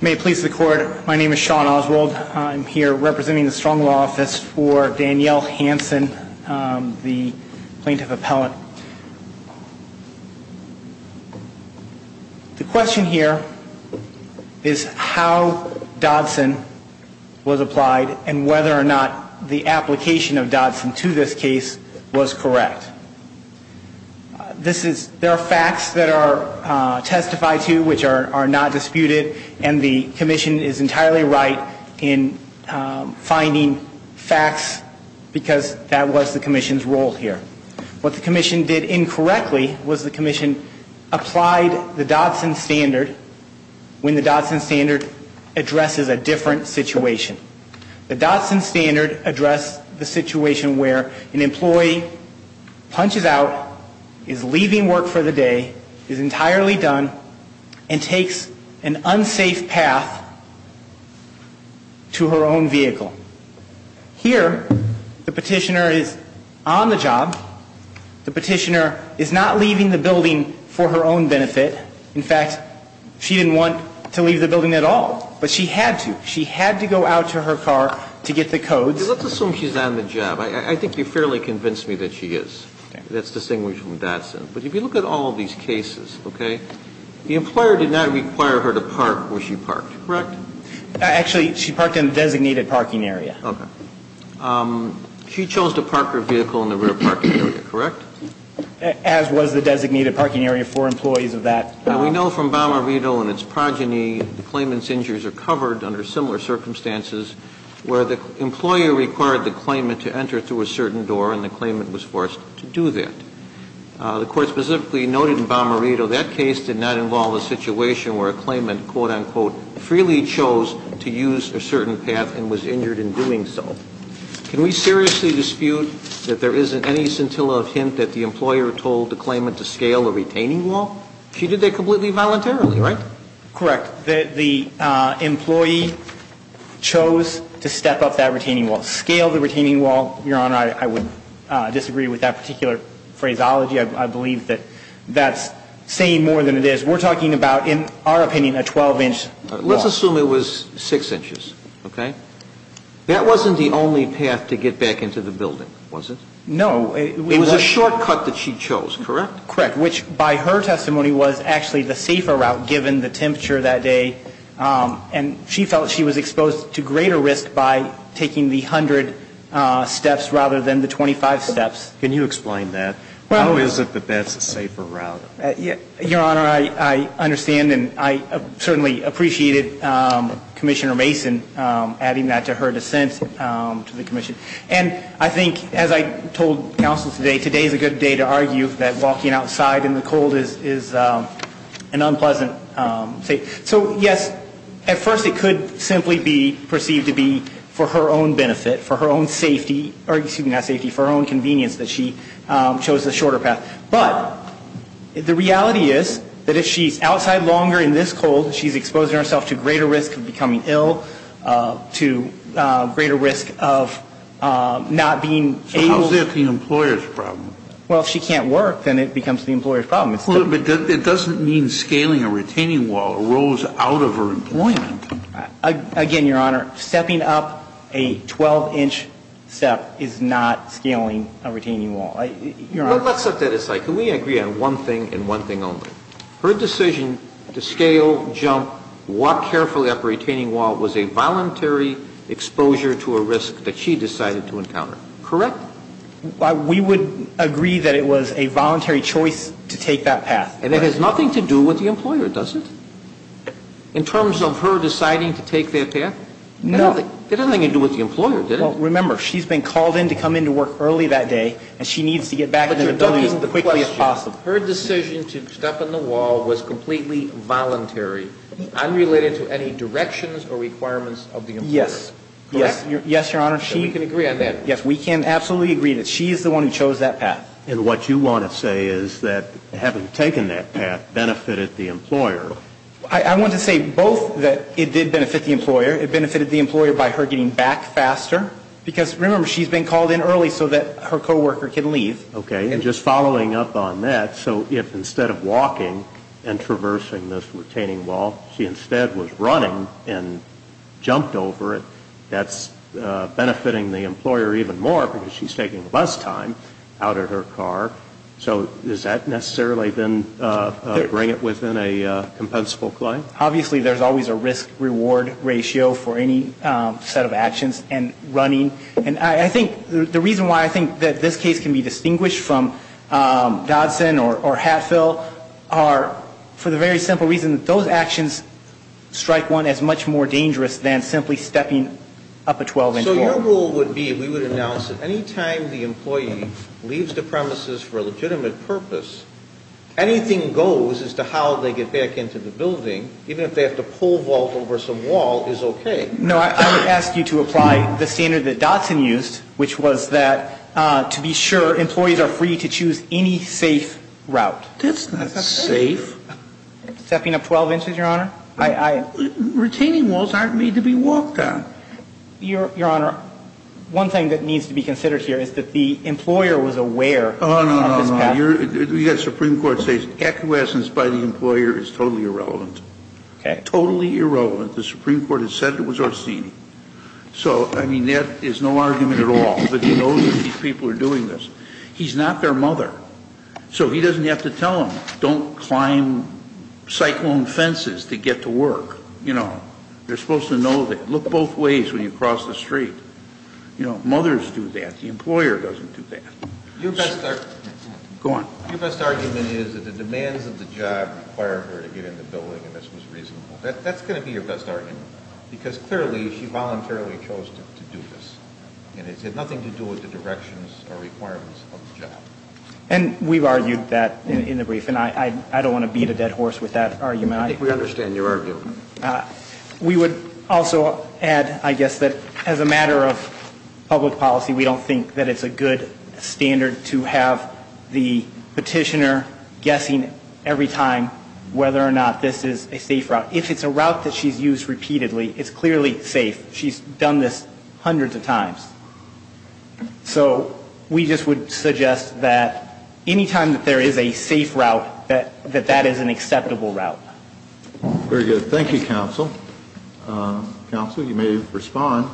May it please the court, my name is Sean Oswald, I'm here representing the strong law office for Danielle Hanson, the plaintiff appellant. The question here is how Dodson was applied and whether or not the application of Dodson to this case was correct. This is, there are facts that are testified to which are not disputed and the commission is entirely right in finding facts because that was the commission's role here. What the commission did incorrectly was the commission applied the Dodson standard when the Dodson standard addresses a different situation. The Dodson standard addressed the situation where an employee punches out, is leaving work for the day, is entirely done, and takes an unsafe path to her own vehicle. Here the Petitioner is on the job, the Petitioner is not leaving the building for her own benefit. In fact, she didn't want to leave the building at all, but she had to. She had to go out to her car to get the codes. Let's assume she's on the job. I think you've fairly convinced me that she is, that's distinguished from Dodson. But if you look at all of these cases, okay, the employer did not require her to park where she parked, correct? Actually, she parked in the designated parking area. Okay. She chose to park her vehicle in the rear parking area, correct? As was the designated parking area for employees of that. And we know from Balmer Vito and its progeny, the claimant's injuries are covered under similar circumstances where the employer required the claimant to enter through a certain door and the claimant was forced to do that. The Court specifically noted in Balmer Vito that case did not involve a situation where a claimant, quote, unquote, freely chose to use a certain path and was injured in doing so. Can we seriously dispute that there isn't any scintilla of hint that the employer told the claimant to scale the retaining wall? She did that completely voluntarily, right? Correct. The employee chose to step up that retaining wall, scale the retaining wall. Your Honor, I would disagree with that particular phraseology. I believe that that's saying more than it is. We're talking about, in our opinion, a 12-inch wall. Let's assume it was 6 inches, okay? That wasn't the only path to get back into the building, was it? No. It was a shortcut that she chose, correct? Correct, which by her testimony was actually the safer route given the temperature that day. And she felt she was exposed to greater risk by taking the 100 steps rather than the 25 steps. Can you explain that? How is it that that's a safer route? Your Honor, I understand and I certainly appreciated Commissioner Mason adding that to her dissent to the Commission. And I think, as I told counsel today, today's a good day to argue that walking outside in the cold is an unpleasant thing. So yes, at first it could simply be perceived to be for her own benefit, for her own safety, or excuse me, not safety, for her own convenience that she chose the shorter path. But the reality is that if she's outside longer in this cold, she's exposing herself to greater risk of becoming ill, to greater risk of not being able to So how's that the employer's problem? Well, if she can't work, then it becomes the employer's problem. But it doesn't mean scaling a retaining wall arose out of her employment. Again, Your Honor, stepping up a 12 inch step is not scaling a retaining wall. Let's set that aside. Can we agree on one thing and one thing only? Her decision to scale, jump, walk carefully up a retaining wall was a voluntary exposure to a risk that she decided to encounter. Correct? We would agree that it was a voluntary choice to take that path. And it has nothing to do with the employer, does it? In terms of her deciding to take that path? No. It had nothing to do with the employer, did it? Remember, she's been called in to come into work early that day, and she needs to get back in the building as quickly as possible. Her decision to step on the wall was completely voluntary, unrelated to any directions or requirements of the employer. Yes. Correct? Yes, Your Honor. We can agree on that. Yes, we can absolutely agree that she is the one who chose that path. And what you want to say is that having taken that path benefited the employer? I want to say both that it did benefit the employer. It benefited the employer by her getting back faster. Because remember, she's been called in early so that her co-worker can leave. Okay. And just following up on that, so if instead of walking and traversing this retaining wall, she instead was running and jumped over it, that's benefiting the employer even more because she's taking less time out of her car. So does that necessarily then bring it within a compensable claim? Obviously, there's always a risk-reward ratio for any set of actions and running. And I think the reason why I think that this case can be distinguished from Dodson or Hatfield are for the very simple reason that those actions strike one as much more dangerous than simply stepping up a 12-inch wall. So your rule would be, we would announce that any time the employee leaves the premises for a legitimate purpose, anything goes as to how they get back into the building, even if they have to pole vault over some wall, is okay. No, I would ask you to apply the standard that Dodson used, which was that to be sure, employees are free to choose any safe route. That's not safe. Stepping up 12 inches, Your Honor? Retaining walls aren't made to be walked on. Your Honor, one thing that needs to be considered here is that the employer was aware of this past. No, no, no. The Supreme Court says acquiescence by the employer is totally irrelevant. Okay. Totally irrelevant. The Supreme Court has said it was Orsini. So, I mean, that is no argument at all. But he knows that these people are doing this. He's not their mother. So he doesn't have to tell them, don't climb cyclone fences to get to work. You know, they're supposed to know that. Look both ways when you cross the street. You know, mothers do that. The employer doesn't do that. Go on. Your best argument is that the demands of the job required her to get in the building, and this was reasonable. That's going to be your best argument. Because clearly, she voluntarily chose to do this. And it has nothing to do with the directions or requirements of the job. And we've argued that in the brief, and I don't want to beat a dead horse with that argument. I think we understand your argument. We would also add, I guess, that as a matter of public policy, we don't think that it's a good standard to have the petitioner guessing every time whether or not this is a safe route. If it's a route that she's used repeatedly, it's clearly safe. She's done this hundreds of times. So we just would suggest that any time that there is a safe route, that that is an acceptable route. Very good. Thank you, Counsel. Counsel, you may respond.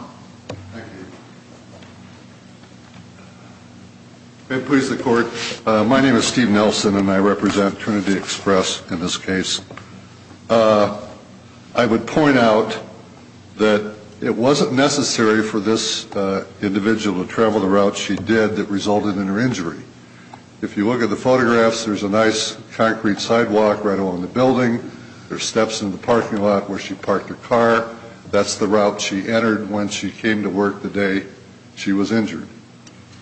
May it please the Court. My name is Steve Nelson, and I represent Trinity Express in this case. I would point out that it wasn't necessary for this individual to travel the route she did that resulted in her injury. If you look at the photographs, there's a nice concrete sidewalk right along the building. There's steps in the parking lot where she parked her car. That's the route she entered when she came to work the day she was injured.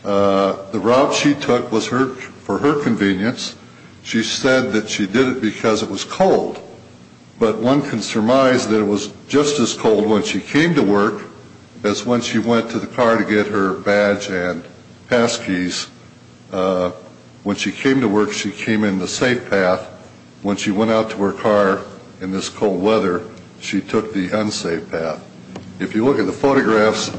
The route she took was for her convenience. She said that she did it because it was cold, but one can surmise that it was just as cold when she came to work as when she went to the car to get her badge and pass keys. When she came to work, she came in the safe path. When she went out to her car in this cold weather, she took the unsafe path. If you look at the photographs,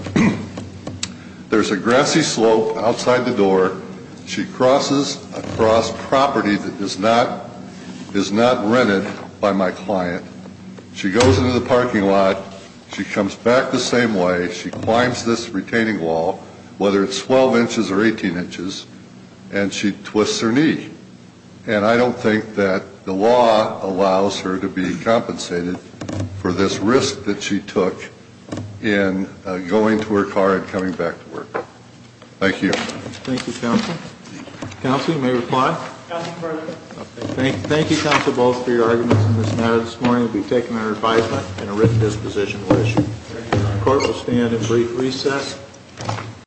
there's a grassy slope outside the door. She crosses across property that is not rented by my client. She goes into the parking lot. She comes back the same way. She climbs this retaining wall, whether it's 12 inches or 18 inches, and she twists her knee. And I don't think that the law allows her to be compensated for this risk that she took in going to her car and coming back to work. Thank you. Thank you, Counsel. Counsel, you may reply. Counsel, further. Thank you, Counsel, both for your arguments in this matter this morning. We've taken our advisement and a written disposition will issue. Court will stand in brief recess.